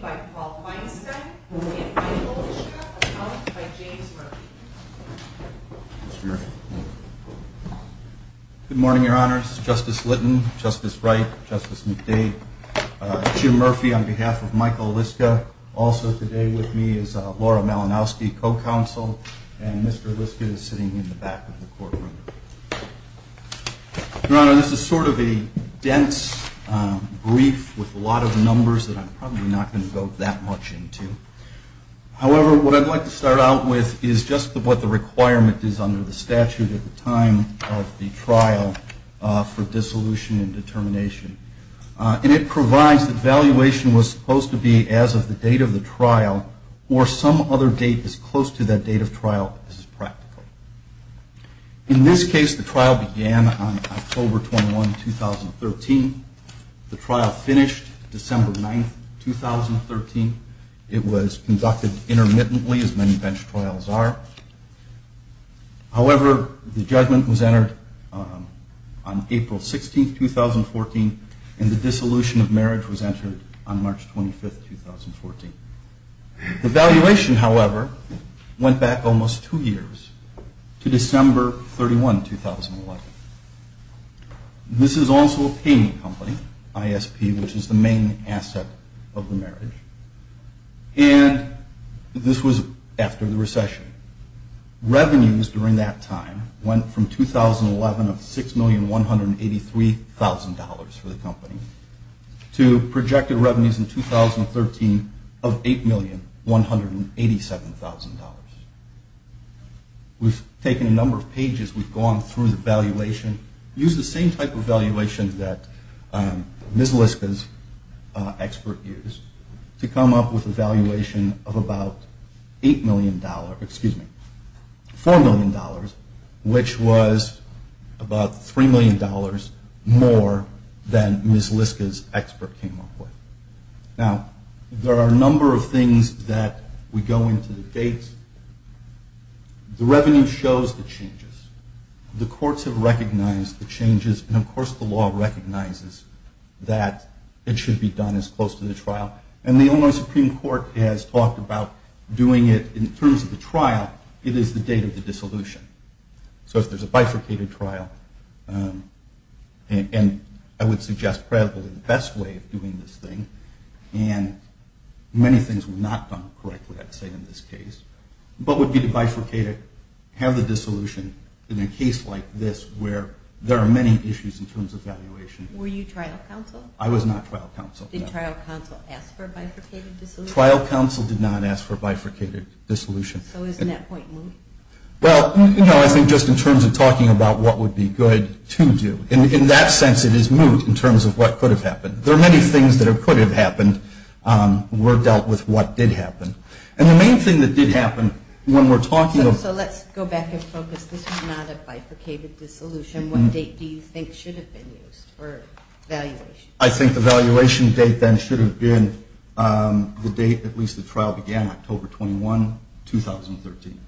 by Paul Feinstein and Michael Liszka, accounted by James Murphy. Good morning, Your Honors. Justice Litton, Justice Wright, Justice McDade, Jim Murphy on behalf of Michael Liszka. Also today with me is Laura Malinowski, co-counsel, and Mr. Liszka is sitting in the back of the courtroom. Your Honor, this is sort of a dense brief with a lot of numbers that I'm probably not going to go that much into. However, what I'd like to start out with is just what the requirement is under the statute at the time of the trial for dissolution and determination. And it provides that valuation was supposed to be as of the date of the trial or some other date as close to that date of trial as is practical. In this case, the trial began on October 21, 2013. The trial finished December 9, 2013. It was conducted intermittently, as many bench trials are. However, the judgment was entered on April 16, 2014, and the dissolution of marriage was entered on March 25, 2014. The valuation, however, went back almost two years to December 31, 2011. This is also a payment company, ISP, which is the main asset of the marriage. And this was after the recession. Revenues during that time went from 2011 of $6,183,000 for the company to projected revenues in 2013 of $8,187,000. We've taken a number of pages. We've gone through the valuation, used the same type of valuation that Ms. Liska's expert used to come up with a valuation of about $4 million, which was about $3 million more than Ms. Liska's expert came up with. Now, there are a number of things that we go into the dates. The revenue shows the changes. The courts have recognized the changes, and, of course, the law recognizes that it should be done as close to the trial. And the Illinois Supreme Court has talked about doing it in terms of the trial. It is the date of the dissolution. So if there's a bifurcated trial, and I would suggest probably the best way of doing this thing, and many things were not done correctly, I'd say, in this case, but would be to bifurcate it, have the dissolution in a case like this where there are many issues in terms of valuation. Were you trial counsel? I was not trial counsel. Did trial counsel ask for a bifurcated dissolution? Trial counsel did not ask for a bifurcated dissolution. So isn't that point moot? Well, no, I think just in terms of talking about what would be good to do. In that sense, it is moot in terms of what could have happened. There are many things that could have happened. We're dealt with what did happen. And the main thing that did happen, when we're talking about... So let's go back and focus. This was not a bifurcated dissolution. What date do you think should have been used for valuation? I think the valuation date then should have been the date at least the trial began, October 21, 2013.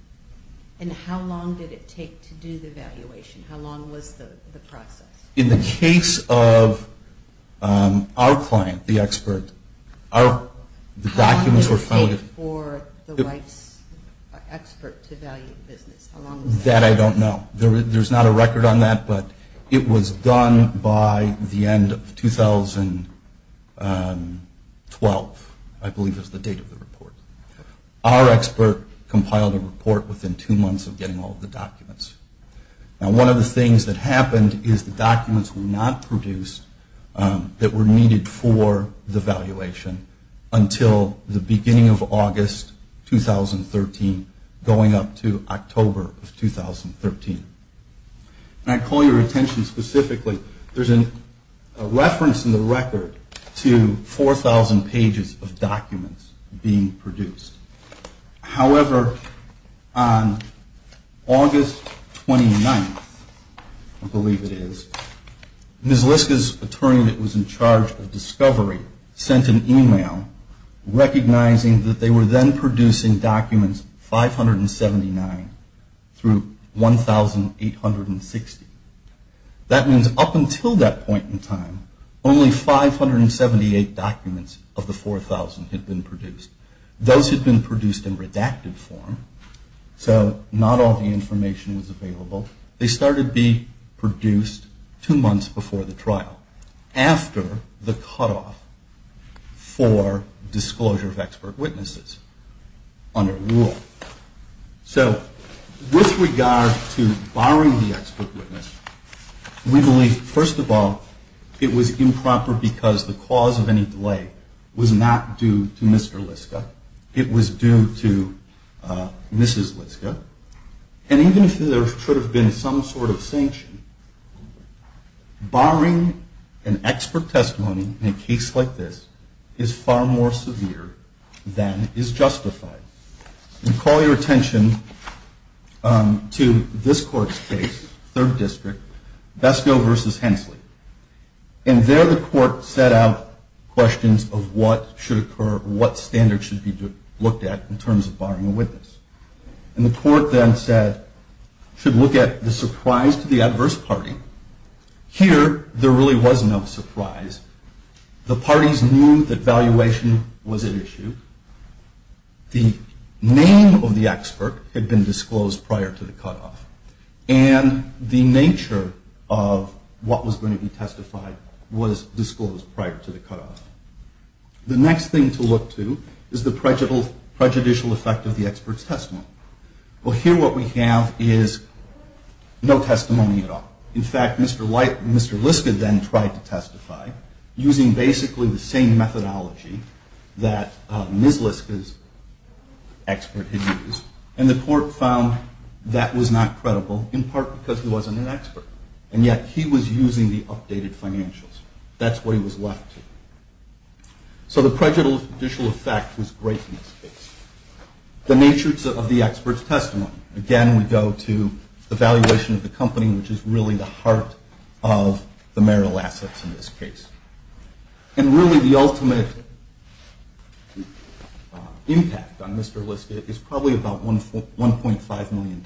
And how long did it take to do the valuation? How long was the process? In the case of our client, the expert, the documents were... How long did it take for the wife's expert to value the business? That I don't know. There's not a record on that, but it was done by the end of 2012, I believe is the date of the report. Our expert compiled a report within two months of getting all of the documents. Now, one of the things that happened is the documents were not produced that were needed for the valuation until the beginning of August 2013, going up to October of 2013. And I call your attention specifically, there's a reference in the record to 4,000 pages of documents being produced. However, on August 29th, I believe it is, Ms. Liska's attorney that was in charge of discovery sent an email recognizing that they were then producing documents 579 through 1,860. That means up until that point in time, only 578 documents of the 4,000 had been produced. Those had been produced in redacted form, so not all the information was available. They started being produced two months before the trial, after the cutoff for disclosure of expert witnesses under rule. So, with regard to borrowing the expert witness, we believe, first of all, it was improper because the cause of any delay was not due to Mr. Liska. It was due to Mrs. Liska. And even if there should have been some sort of sanction, borrowing an expert testimony in a case like this is far more severe than is justified. I call your attention to this court's case, third district, Besco versus Hensley. And there the court set out questions of what should occur, what standards should be looked at in terms of borrowing a witness. And the court then said, should look at the surprise to the adverse party. Here, there really was no surprise. The parties knew that valuation was at issue. The name of the expert had been disclosed prior to the cutoff. And the nature of what was going to be testified was disclosed prior to the cutoff. The next thing to look to is the prejudicial effect of the expert's testimony. Well, here what we have is no testimony at all. In fact, Mr. Liska then tried to testify using basically the same methodology that Ms. Liska's expert had used. And the court found that was not credible, in part because he wasn't an expert. And yet he was using the updated financials. That's what he was left to. So the prejudicial effect was great in this case. The nature of the expert's testimony. Again, we go to the valuation of the company, which is really the heart of the marital assets in this case. And really, the ultimate impact on Mr. Liska is probably about $1.5 million.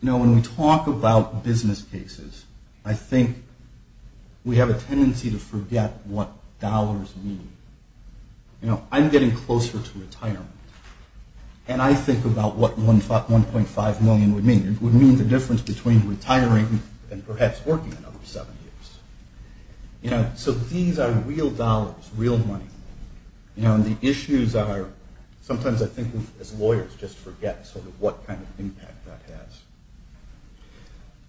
You know, when we talk about business cases, I think we have a tendency to forget what dollars mean. You know, I'm getting closer to retirement. And I think about what $1.5 million would mean. It would mean the difference between retiring and perhaps working another seven years. You know, so these are real dollars, real money. You know, and the issues are sometimes I think as lawyers just forget sort of what kind of impact that has.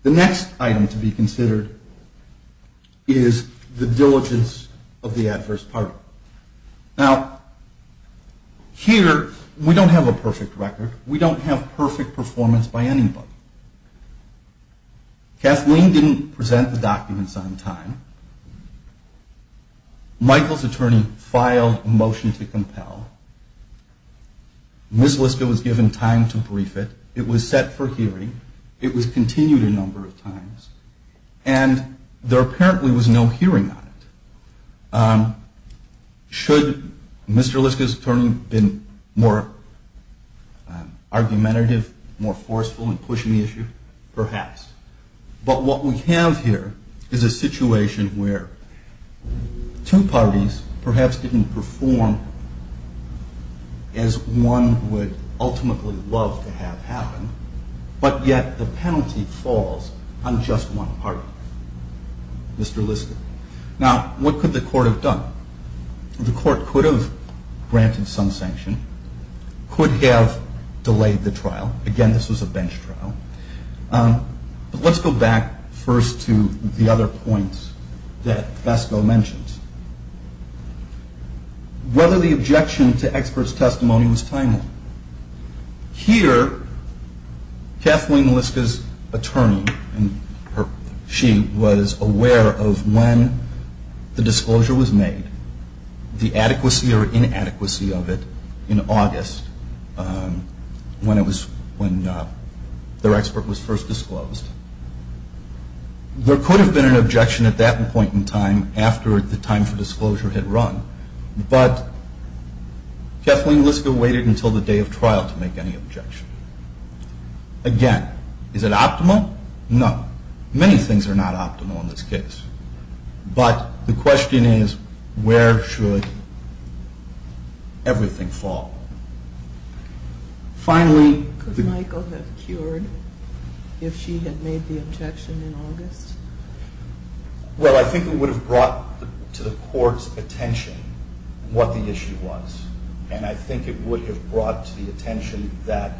The next item to be considered is the diligence of the adverse partner. Now, here we don't have a perfect record. We don't have perfect performance by anybody. Kathleen didn't present the documents on time. Michael's attorney filed a motion to compel. Ms. Liska was given time to brief it. It was set for hearing. It was continued a number of times. And there apparently was no hearing on it. Should Mr. Liska's attorney have been more argumentative, more forceful in pushing the issue? Perhaps. But what we have here is a situation where two parties perhaps didn't perform as one would ultimately love to have happen, but yet the penalty falls on just one party, Mr. Liska. Now, what could the court have done? The court could have granted some sanction, could have delayed the trial. Again, this was a bench trial. But let's go back first to the other points that Vasco mentioned. Whether the objection to experts' testimony was timely. Here, Kathleen Liska's attorney, she was aware of when the disclosure was made, the adequacy or inadequacy of it in August when their expert was first disclosed. There could have been an objection at that point in time after the time for disclosure had run. But Kathleen Liska waited until the day of trial to make any objection. Again, is it optimal? No. Many things are not optimal in this case. But the question is where should everything fall? Finally, could Michael have cured if she had made the objection in August? Well, I think it would have brought to the court's attention what the issue was. And I think it would have brought to the attention that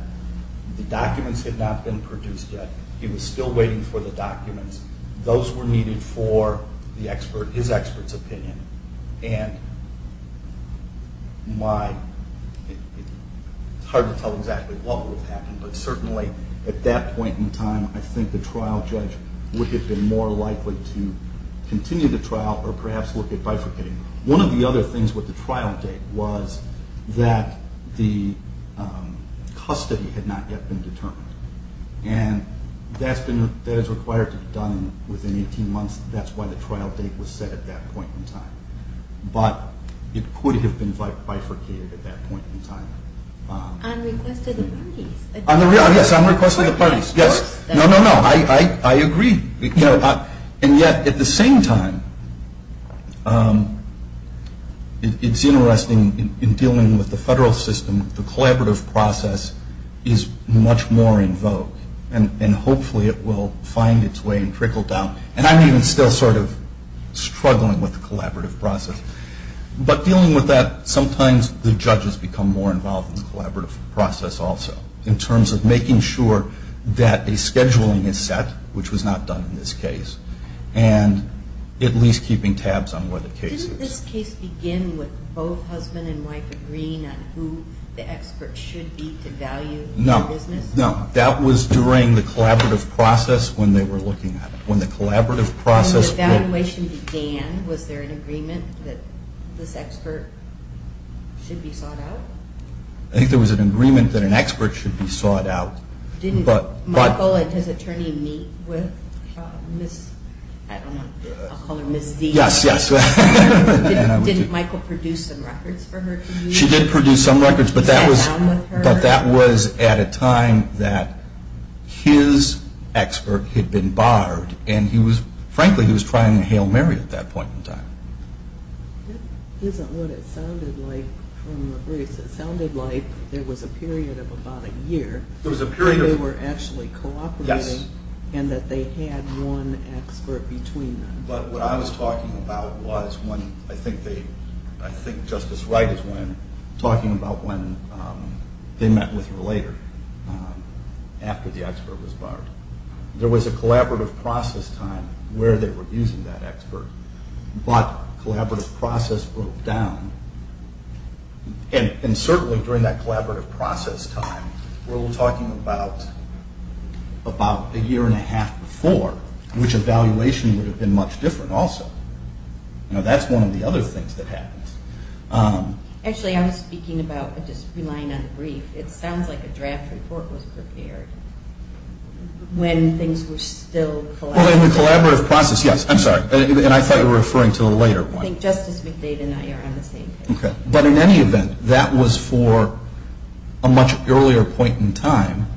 the documents had not been produced yet. He was still waiting for the documents. Those were needed for his expert's opinion. And it's hard to tell exactly what would have happened, but certainly at that point in time I think the trial judge would have been more likely to continue the trial or perhaps look at bifurcating. One of the other things with the trial date was that the custody had not yet been determined. And that is required to be done within 18 months. That's why the trial date was set at that point in time. But it could have been bifurcated at that point in time. On request of the parties? Yes, on request of the parties. Yes. No, no, no. I agree. And yet at the same time, it's interesting in dealing with the federal system, the collaborative process is much more in vogue. And hopefully it will find its way and trickle down. And I'm even still sort of struggling with the collaborative process. But dealing with that, sometimes the judges become more involved in the collaborative process also in terms of making sure that a scheduling is set, which was not done in this case, and at least keeping tabs on where the case is. Didn't this case begin with both husband and wife agreeing on who the expert should be to value the business? No, no. That was during the collaborative process when they were looking at it. When the collaborative process began, was there an agreement that this expert should be sought out? I think there was an agreement that an expert should be sought out. Didn't Michael and his attorney meet with Ms., I don't know, I'll call her Ms. Z? Yes, yes. Didn't Michael produce some records for her to use? She did produce some records, but that was at a time that his expert had been barred. And frankly, he was trying to hail Mary at that point in time. That isn't what it sounded like from the briefs. It sounded like there was a period of about a year and they were actually cooperating and that they had one expert between them. But what I was talking about was when, I think Justice Wright is talking about when they met with her later, after the expert was barred. There was a collaborative process time where they were using that expert, but collaborative process broke down. And certainly during that collaborative process time, we're talking about a year and a half before, which evaluation would have been much different also. Now that's one of the other things that happens. Actually, I was speaking about, just relying on the brief, it sounds like a draft report was prepared when things were still collaborative. Well, in the collaborative process, yes, I'm sorry. And I thought you were referring to a later point. I think Justice McDade and I are on the same page. Okay. But in any event, that was for a much earlier point in time,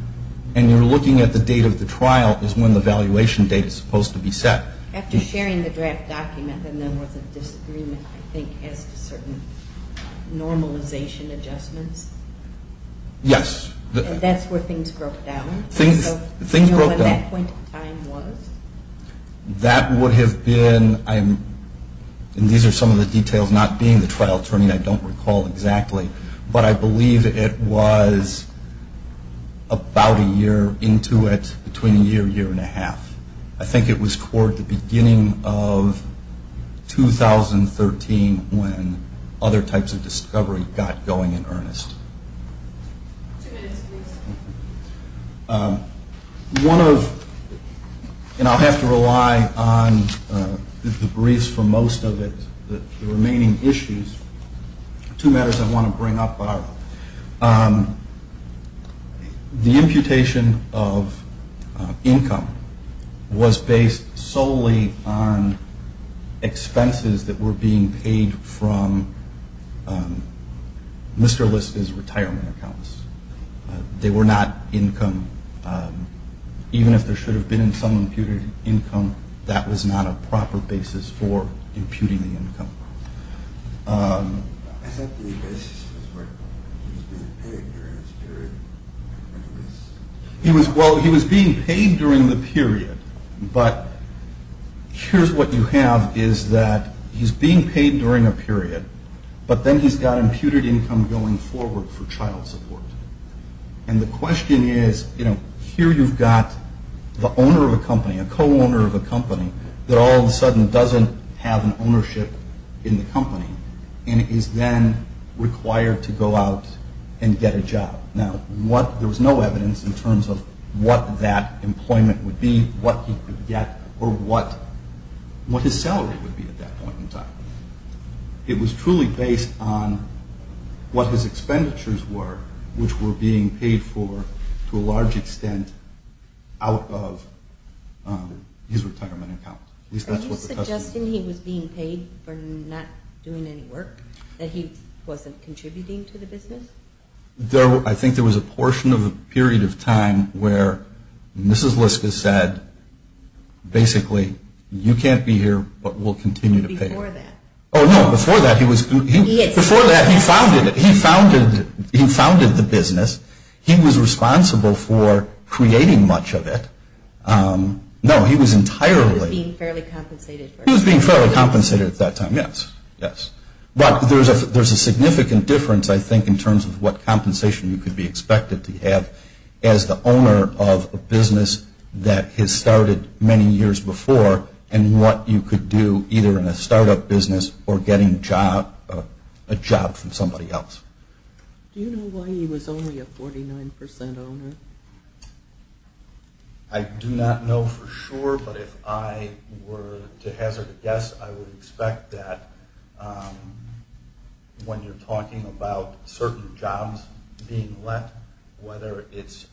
and you're looking at the date of the trial is when the evaluation date is supposed to be set. After sharing the draft document, then there was a disagreement, I think, as to certain normalization adjustments? Yes. And that's where things broke down? Things broke down. So you know when that point in time was? That would have been, and these are some of the details, not being the trial attorney, I don't recall exactly, but I believe it was about a year into it, between a year, year and a half. I think it was toward the beginning of 2013 when other types of discovery got going in earnest. Two minutes, please. One of, and I'll have to rely on the briefs for most of it, the remaining issues, two matters I want to bring up are the imputation of income was based solely on expenses that were being paid from Mr. List's retirement accounts. They were not income, even if there should have been some imputed income, that was not a proper basis for imputing the income. I thought the basis was where he was being paid during his period. Well, he was being paid during the period, but here's what you have is that he's being paid during a period, but then he's got imputed income going forward for child support. And the question is, you know, here you've got the owner of a company, a co-owner of a company that all of a sudden doesn't have an ownership in the company and is then required to go out and get a job. Now, there was no evidence in terms of what that employment would be, what he could get, it was truly based on what his expenditures were, which were being paid for to a large extent out of his retirement account. Are you suggesting he was being paid for not doing any work, that he wasn't contributing to the business? I think there was a portion of a period of time where Mrs. Liska said, basically, you can't be here, but we'll continue to pay you. Before that. Oh, no, before that, he founded the business. He was responsible for creating much of it. No, he was entirely. He was being fairly compensated. He was being fairly compensated at that time, yes, yes. But there's a significant difference, I think, that has started many years before in what you could do either in a startup business or getting a job from somebody else. Do you know why he was only a 49% owner? I do not know for sure, but if I were to hazard a guess, I would expect that when you're talking about certain jobs being let, whether it's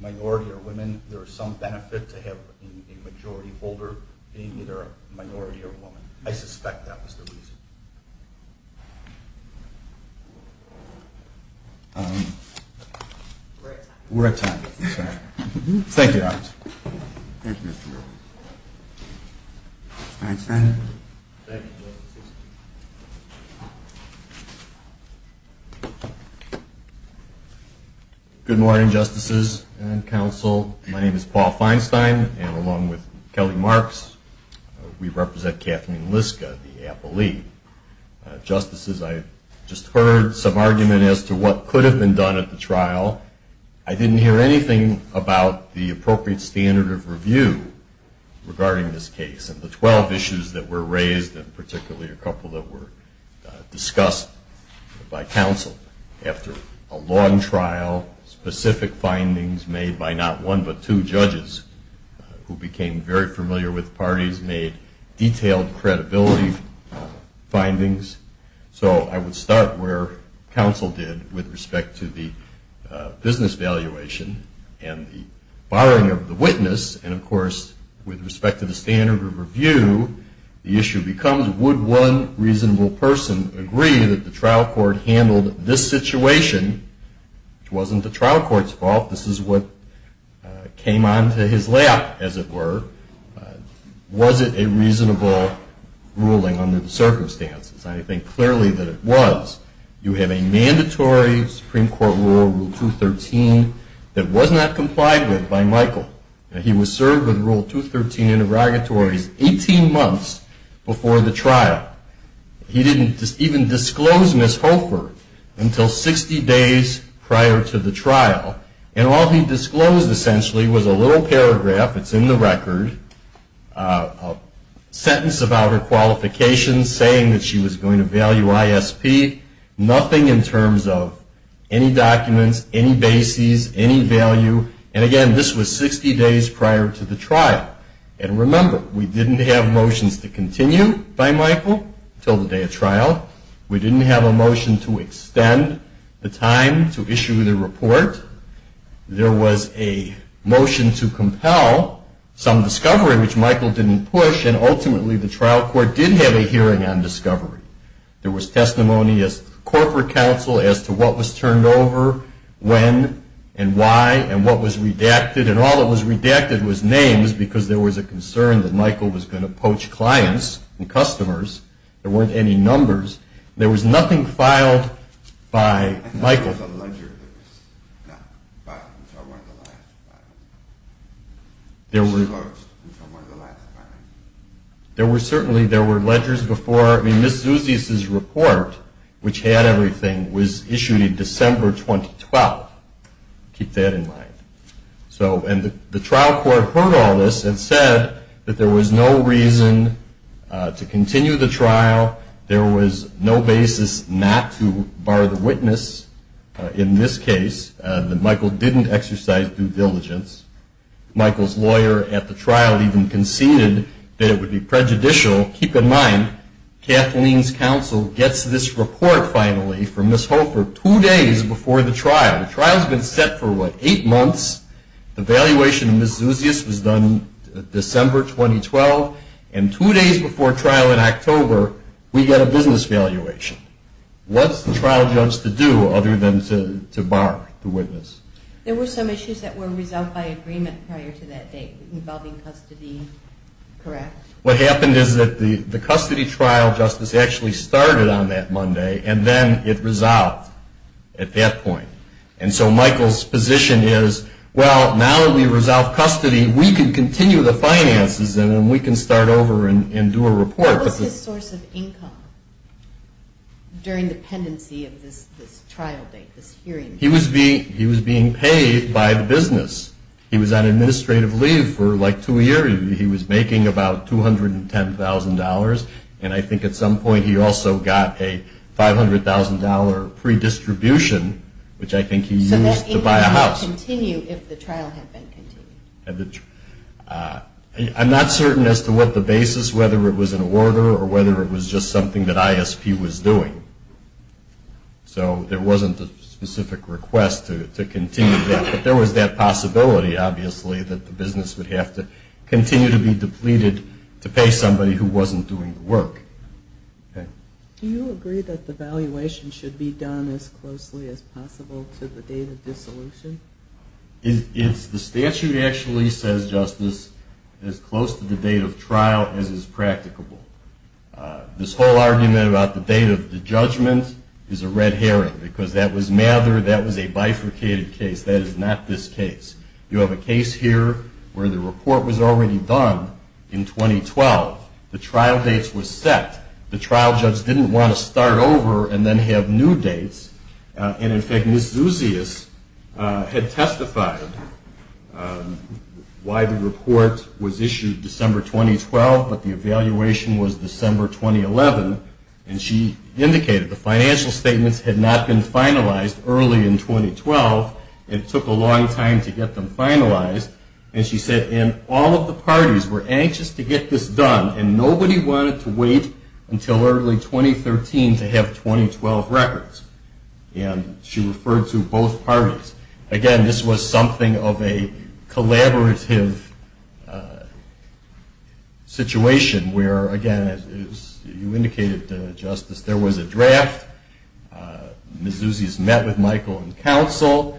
minority or women, there's some benefit to have a majority holder being either a minority or a woman. I suspect that was the reason. We're out of time. We're out of time. Thank you, officers. Good morning, justices and counsel. My name is Paul Feinstein, and along with Kelly Marks, we represent Kathleen Liska, the appellee. Justices, I just heard some argument as to what could have been done at the trial. I didn't hear anything about the appropriate standard of review regarding this case, and the 12 issues that were raised, and particularly a couple that were discussed by counsel. After a long trial, specific findings made by not one but two judges, who became very familiar with parties, made detailed credibility findings. I would start where counsel did with respect to the business valuation and the borrowing of the witness, and, of course, with respect to the standard of review, the issue becomes, would one reasonable person agree that the trial court handled this situation? It wasn't the trial court's fault. This is what came onto his lap, as it were. Was it a reasonable ruling under the circumstances? I think clearly that it was. You have a mandatory Supreme Court rule, Rule 213, that was not complied with by Michael. He was served with Rule 213 interrogatories 18 months before the trial. He didn't even disclose Ms. Holford until 60 days prior to the trial, and all he disclosed, essentially, was a little paragraph that's in the record, a sentence about her qualifications, saying that she was going to value ISP, nothing in terms of any documents, any bases, any value. And, again, this was 60 days prior to the trial. And remember, we didn't have motions to continue by Michael until the day of trial. We didn't have a motion to extend the time to issue the report. There was a motion to compel some discovery, which Michael didn't push, and ultimately the trial court did have a hearing on discovery. There was testimony at the corporate council as to what was turned over, when, and why, and what was redacted, and all that was redacted was names, because there was a concern that Michael was going to poach clients and customers. There weren't any numbers. There was nothing filed by Michael. There was a ledger that was not filed until one of the last five. It was closed until one of the last five. There were certainly, there were ledgers before. I mean, Ms. Zeusius's report, which had everything, was issued in December 2012. Keep that in mind. And the trial court heard all this and said that there was no reason to continue the trial. There was no basis not to bar the witness in this case, that Michael didn't exercise due diligence. Michael's lawyer at the trial even conceded that it would be prejudicial. Keep in mind, Kathleen's counsel gets this report finally from Ms. Hofer two days before the trial. The trial's been set for, what, eight months. The valuation of Ms. Zeusius was done December 2012, and two days before trial in October we get a business valuation. What's the trial judge to do other than to bar the witness? There were some issues that were resolved by agreement prior to that date involving custody, correct? What happened is that the custody trial, Justice, actually started on that Monday, and then it resolved at that point. And so Michael's position is, well, now that we've resolved custody, we can continue the finances and we can start over and do a report. What was his source of income during the pendency of this trial date, this hearing? He was being paid by the business. He was on administrative leave for, like, two years. He was making about $210,000, and I think at some point he also got a $500,000 pre-distribution, which I think he used to buy a house. So that income would continue if the trial had been continued? I'm not certain as to what the basis, whether it was an order or whether it was just something that ISP was doing. So there wasn't a specific request to continue that. But there was that possibility, obviously, that the business would have to continue to be depleted to pay somebody who wasn't doing the work. Do you agree that the valuation should be done as closely as possible to the date of dissolution? The statute actually says, Justice, as close to the date of trial as is practicable. This whole argument about the date of the judgment is a red herring, because that was Mather. That was a bifurcated case. That is not this case. You have a case here where the report was already done in 2012. The trial dates were set. The trial judge didn't want to start over and then have new dates. And, in fact, Ms. Zuzius had testified why the report was issued December 2012, but the evaluation was December 2011. And she indicated the financial statements had not been finalized early in 2012. It took a long time to get them finalized. And she said, and all of the parties were anxious to get this done, and nobody wanted to wait until early 2013 to have 2012 records. And she referred to both parties. Again, this was something of a collaborative situation, where, again, as you indicated, Justice, there was a draft. Ms. Zuzius met with Michael and counsel.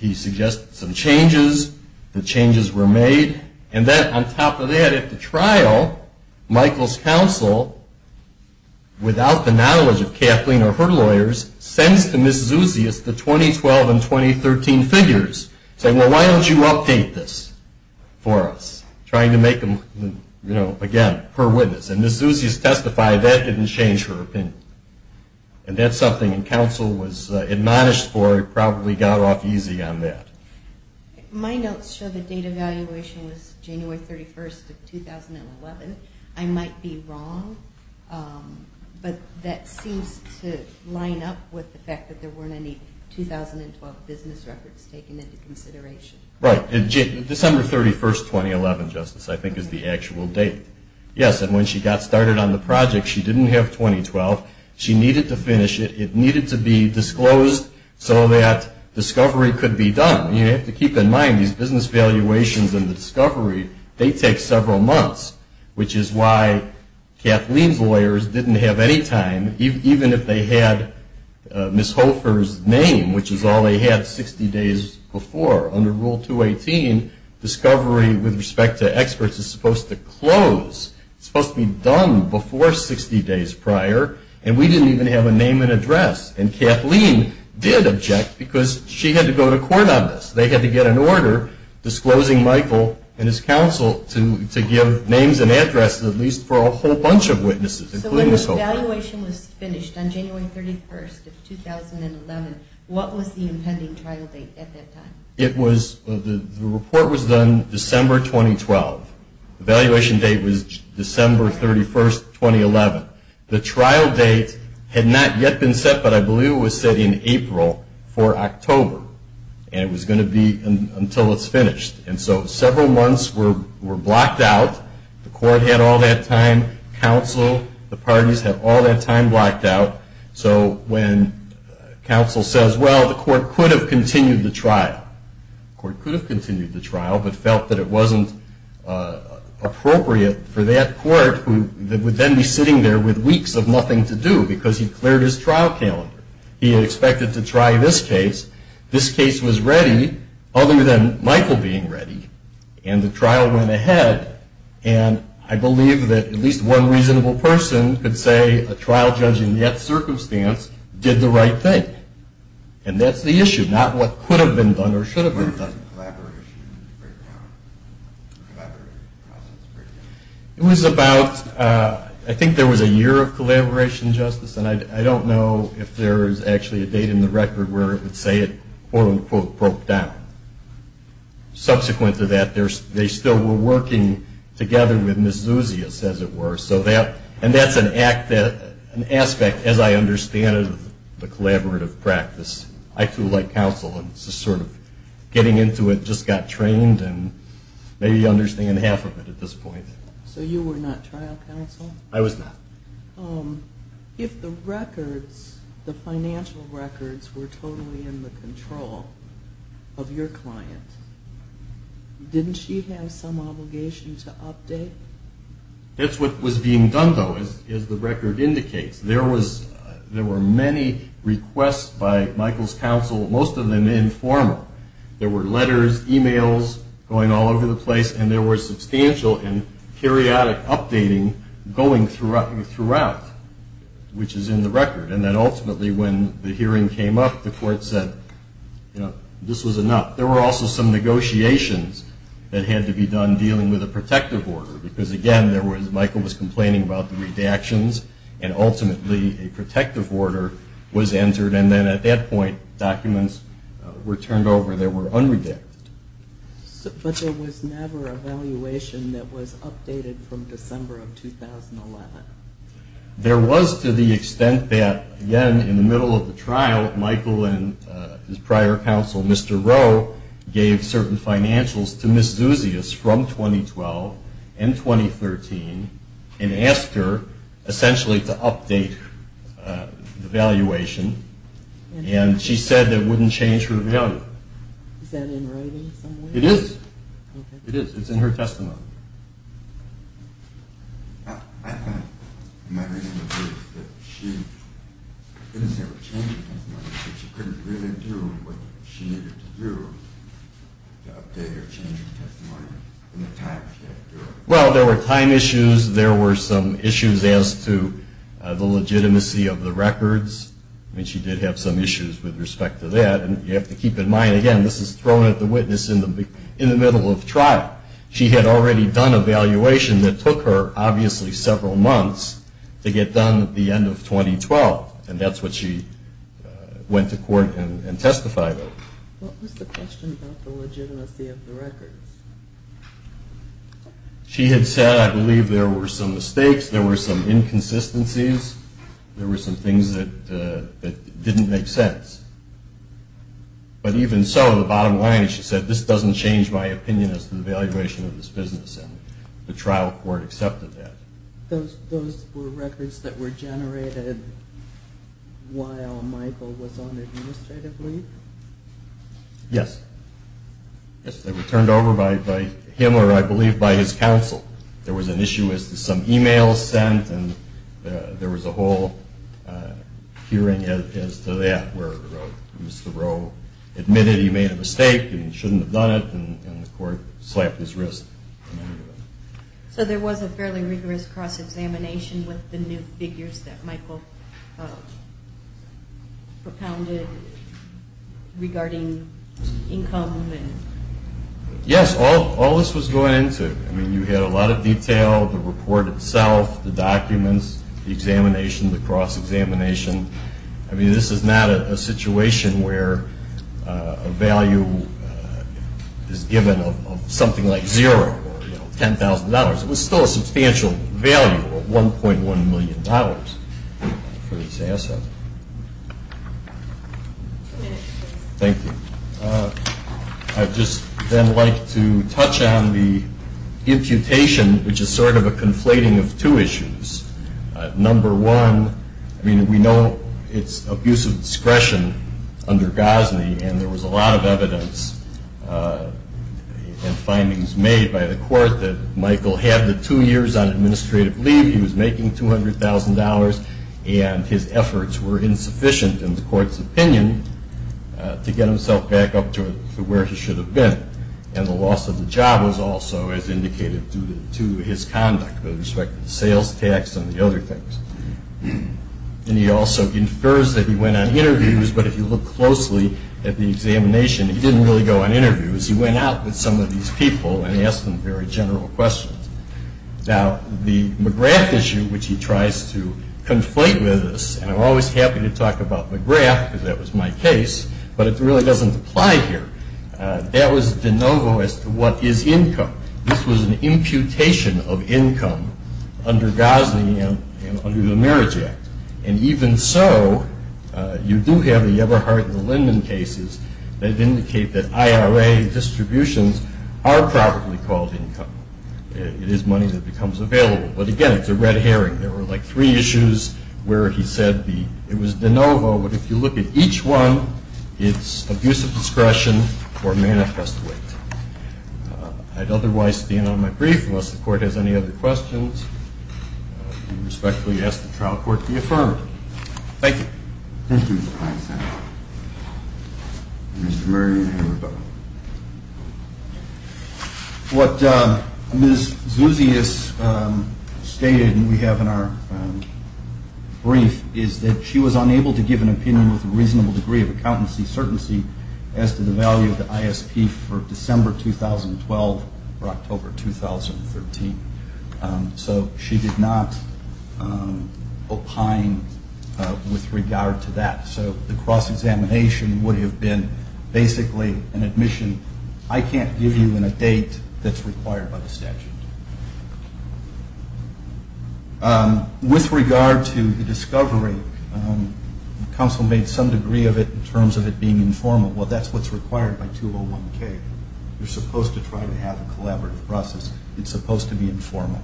He suggested some changes. The changes were made. And then, on top of that, at the trial, Michael's counsel, without the knowledge of Kathleen or her lawyers, sends to Ms. Zuzius the 2012 and 2013 figures saying, well, why don't you update this for us? Trying to make them, again, per witness. And Ms. Zuzius testified that didn't change her opinion. And that's something counsel was admonished for. It probably got off easy on that. My notes show the date of evaluation was January 31st of 2011. I might be wrong, but that seems to line up with the fact that there weren't any 2012 business records taken into consideration. Right. December 31st, 2011, Justice, I think is the actual date. Yes, and when she got started on the project, she didn't have 2012. She needed to finish it. It needed to be disclosed so that discovery could be done. You have to keep in mind these business valuations and the discovery, they take several months, which is why Kathleen's lawyers didn't have any time, even if they had Ms. Hofer's name, which is all they had 60 days before. Under Rule 218, discovery with respect to experts is supposed to close. It's supposed to be done before 60 days prior, and we didn't even have a name and address. And Kathleen did object because she had to go to court on this. They had to get an order disclosing Michael and his counsel to give names and addresses, at least for a whole bunch of witnesses, including Ms. Hofer. When the valuation was finished on January 31st of 2011, what was the impending trial date at that time? The report was done December 2012. The valuation date was December 31st, 2011. The trial date had not yet been set, but I believe it was set in April for October, and it was going to be until it's finished. And so several months were blocked out. The court had all that time. Counsel, the parties, had all that time blocked out. So when counsel says, well, the court could have continued the trial, the court could have continued the trial but felt that it wasn't appropriate for that court, who would then be sitting there with weeks of nothing to do because he'd cleared his trial calendar. He had expected to try this case. This case was ready other than Michael being ready, and the trial went ahead. And I believe that at least one reasonable person could say a trial judging that circumstance did the right thing. And that's the issue, not what could have been done or should have been done. When did the collaboration break down? The collaborative process break down? It was about, I think there was a year of collaboration, Justice, and I don't know if there is actually a date in the record where it would say it, quote, unquote, broke down. Subsequent to that, they still were working together with Ms. Zuzia, as it were, and that's an aspect, as I understand it, of the collaborative practice. I, too, like counsel and just sort of getting into it, just got trained and maybe understand half of it at this point. So you were not trial counsel? I was not. If the records, the financial records, were totally in the control of your client, didn't she have some obligation to update? That's what was being done, though, as the record indicates. There were many requests by Michael's counsel, most of them informal. There were letters, e-mails going all over the place, and there was substantial and periodic updating going throughout, which is in the record. And then, ultimately, when the hearing came up, the court said, you know, this was enough. There were also some negotiations that had to be done dealing with a protective order, because, again, Michael was complaining about the redactions, and ultimately a protective order was entered, and then at that point documents were turned over. They were unredacted. But there was never a valuation that was updated from December of 2011? There was to the extent that, again, in the middle of the trial, Michael and his prior counsel, Mr. Rowe, gave certain financials to Ms. Zuzius from 2012 and 2013 and asked her, essentially, to update the valuation, and she said that it wouldn't change her value. Is that in writing somewhere? It is. It is. It's in her testimony. My reason is that she didn't say it would change her testimony, but she couldn't really do what she needed to do to update her changing testimony in the time she had to do it. Well, there were time issues. There were some issues as to the legitimacy of the records. I mean, she did have some issues with respect to that, and you have to keep in mind, again, this is thrown at the witness in the middle of trial. She had already done a valuation that took her, obviously, several months to get done at the end of 2012, and that's what she went to court and testified over. What was the question about the legitimacy of the records? She had said, I believe, there were some mistakes, there were some inconsistencies, there were some things that didn't make sense. But even so, the bottom line is she said, this doesn't change my opinion as to the valuation of this business, and the trial court accepted that. Those were records that were generated while Michael was on administrative leave? Yes. Yes, they were turned over by him or, I believe, by his counsel. There was an issue as to some e-mails sent, and there was a whole hearing as to that, where Mr. Rowe admitted he made a mistake and he shouldn't have done it, and the court slapped his wrist. So there was a fairly rigorous cross-examination with the new figures that Michael propounded regarding income? Yes, all this was going into it. I mean, you had a lot of detail, the report itself, the documents, the examination, the cross-examination. I mean, this is not a situation where a value is given of something like zero or $10,000. It was still a substantial value of $1.1 million for this asset. Thank you. I'd just then like to touch on the imputation, which is sort of a conflating of two issues. Number one, I mean, we know it's abuse of discretion under Gosney, and there was a lot of evidence and findings made by the court that Michael had the two years on administrative leave, he was making $200,000, and his efforts were insufficient, in the court's opinion, to get himself back up to where he should have been. And the loss of the job was also, as indicated, due to his conduct with respect to the sales tax and the other things. And he also infers that he went on interviews, but if you look closely at the examination, he didn't really go on interviews. He went out with some of these people and asked them very general questions. Now, the McGrath issue, which he tries to conflate with this, and I'm always happy to talk about McGrath because that was my case, but it really doesn't apply here. That was de novo as to what is income. This was an imputation of income under Gosney and under the Marriage Act. And even so, you do have the Eberhardt and Linden cases that indicate that IRA distributions are probably called income. It is money that becomes available. But, again, it's a red herring. There were, like, three issues where he said it was de novo, but if you look at each one, it's abuse of discretion or manifest weight. I'd otherwise stand on my brief. Unless the Court has any other questions, I respectfully ask the trial court to be affirmed. Thank you. Thank you, Mr. Pines. Mr. Murray and Henry Bowman. What Ms. Zuzius stated, and we have in our brief, is that she was unable to give an opinion with a reasonable degree of accountancy certainty as to the value of the ISP for December 2012 or October 2013. So she did not opine with regard to that. So the cross-examination would have been basically an admission, I can't give you a date that's required by the statute. With regard to the discovery, counsel made some degree of it in terms of it being informal. Well, that's what's required by 201K. You're supposed to try to have a collaborative process. It's supposed to be informal.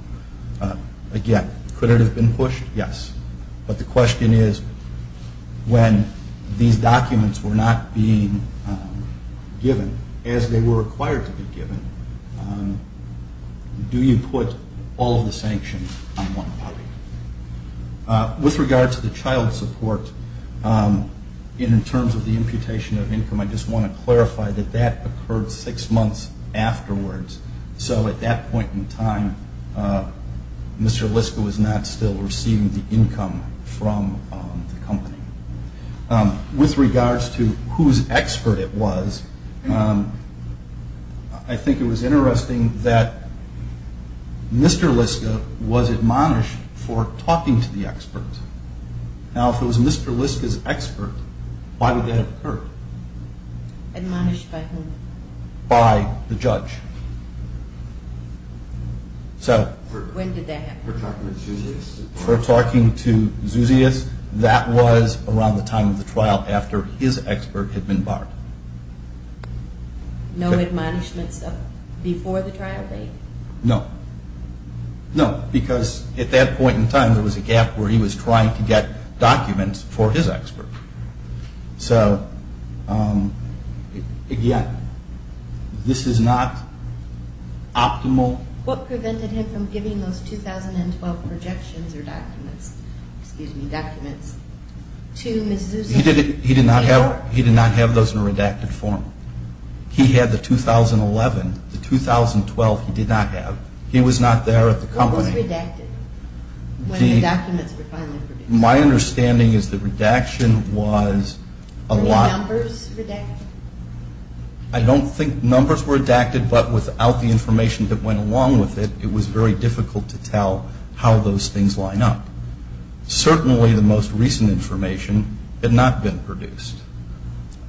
Again, could it have been pushed? Yes. But the question is, when these documents were not being given as they were required to be given, do you put all of the sanctions on one party? With regard to the child support, in terms of the imputation of income, I just want to clarify that that occurred six months afterwards. So at that point in time, Mr. Liska was not still receiving the income from the company. With regards to whose expert it was, I think it was interesting that Mr. Liska was admonished for talking to the expert. Now, if it was Mr. Liska's expert, why would that have occurred? Admonished by whom? By the judge. When did that happen? For talking to Zuzius? For talking to Zuzius. That was around the time of the trial after his expert had been barred. No admonishments before the trial date? No. No, because at that point in time, there was a gap where he was trying to get documents for his expert. So, again, this is not optimal. What prevented him from giving those 2012 projections or documents, excuse me, documents to Ms. Zuzius? He did not have those in redacted form. He had the 2011. The 2012 he did not have. He was not there at the company. What was redacted when the documents were finally produced? My understanding is that redaction was a lot. Were the numbers redacted? I don't think numbers were redacted, but without the information that went along with it, it was very difficult to tell how those things line up. Certainly, the most recent information had not been produced.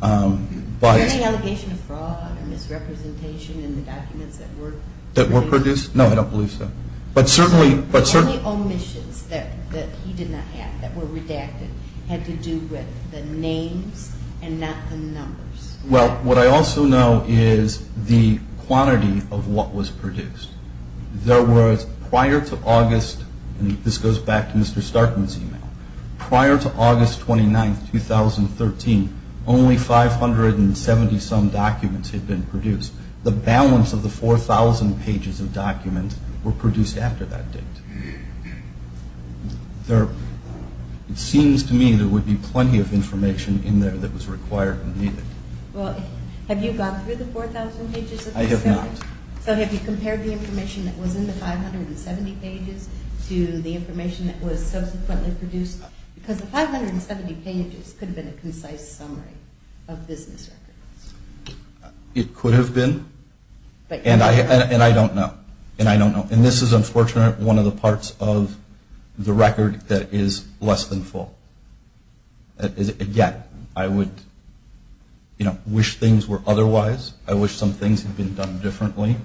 Was there any allegation of fraud or misrepresentation in the documents that were produced? No, I don't believe so. The only omissions that he did not have that were redacted had to do with the names and not the numbers. Well, what I also know is the quantity of what was produced. There was, prior to August, and this goes back to Mr. Starkman's email, prior to August 29, 2013, only 570-some documents had been produced. The balance of the 4,000 pages of documents were produced after that date. It seems to me there would be plenty of information in there that was required and needed. Well, have you gone through the 4,000 pages? I have not. So have you compared the information that was in the 570 pages to the information that was subsequently produced? Because the 570 pages could have been a concise summary of business records. It could have been. And I don't know. And I don't know. And this is, unfortunately, one of the parts of the record that is less than full. Again, I would wish things were otherwise. I wish some things had been done differently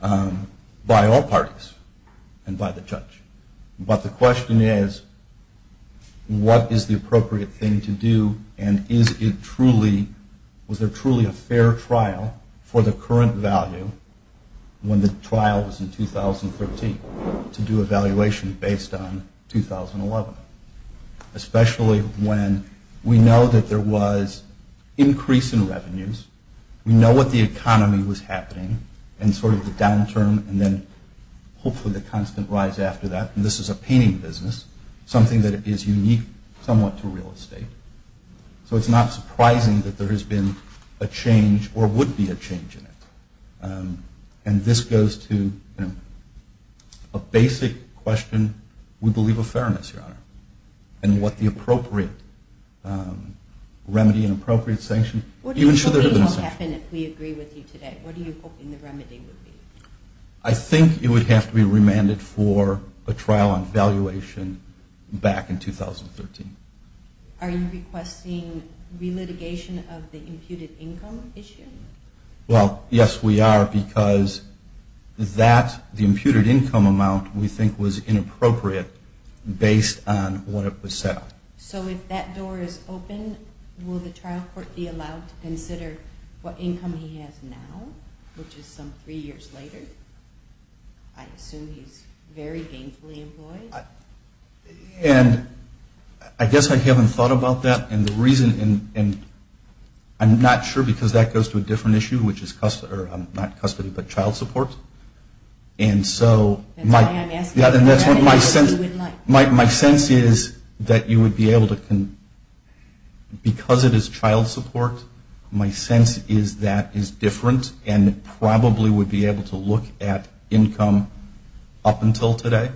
by all parties and by the judge. But the question is what is the appropriate thing to do and was there truly a fair trial for the current value when the trial was in 2013 to do evaluation based on 2011? Especially when we know that there was increase in revenues, we know what the economy was happening and sort of the downturn and then hopefully the constant rise after that. And this is a painting business, something that is unique somewhat to real estate. So it's not surprising that there has been a change or would be a change in it. And this goes to a basic question, we believe, of fairness, Your Honor, and what the appropriate remedy and appropriate sanction. What do you think would happen if we agree with you today? What are you hoping the remedy would be? I think it would have to be remanded for a trial on valuation back in 2013. Are you requesting re-litigation of the imputed income issue? Well, yes, we are because that, the imputed income amount, we think was inappropriate based on what it was set up. So if that door is open, will the trial court be allowed to consider what income he has now, which is some three years later? I assume he's very gainfully employed. And I guess I haven't thought about that. And the reason, and I'm not sure because that goes to a different issue, which is not custody but child support. And so my sense is that you would be able to, because it is child support, my sense is that is different and probably would be able to look at income up until today.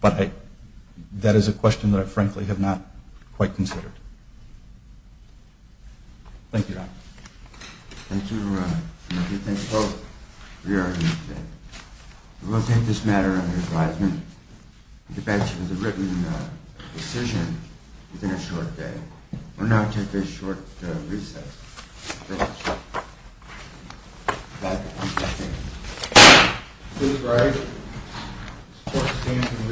But that is a question that I, frankly, have not quite considered. Thank you, Your Honor. Thank you, Your Honor. And I do thank both for your argument today. We will take this matter under advisement. The bench has a written decision within a short day. We'll now take a short recess. Please rise. Support stands in recess.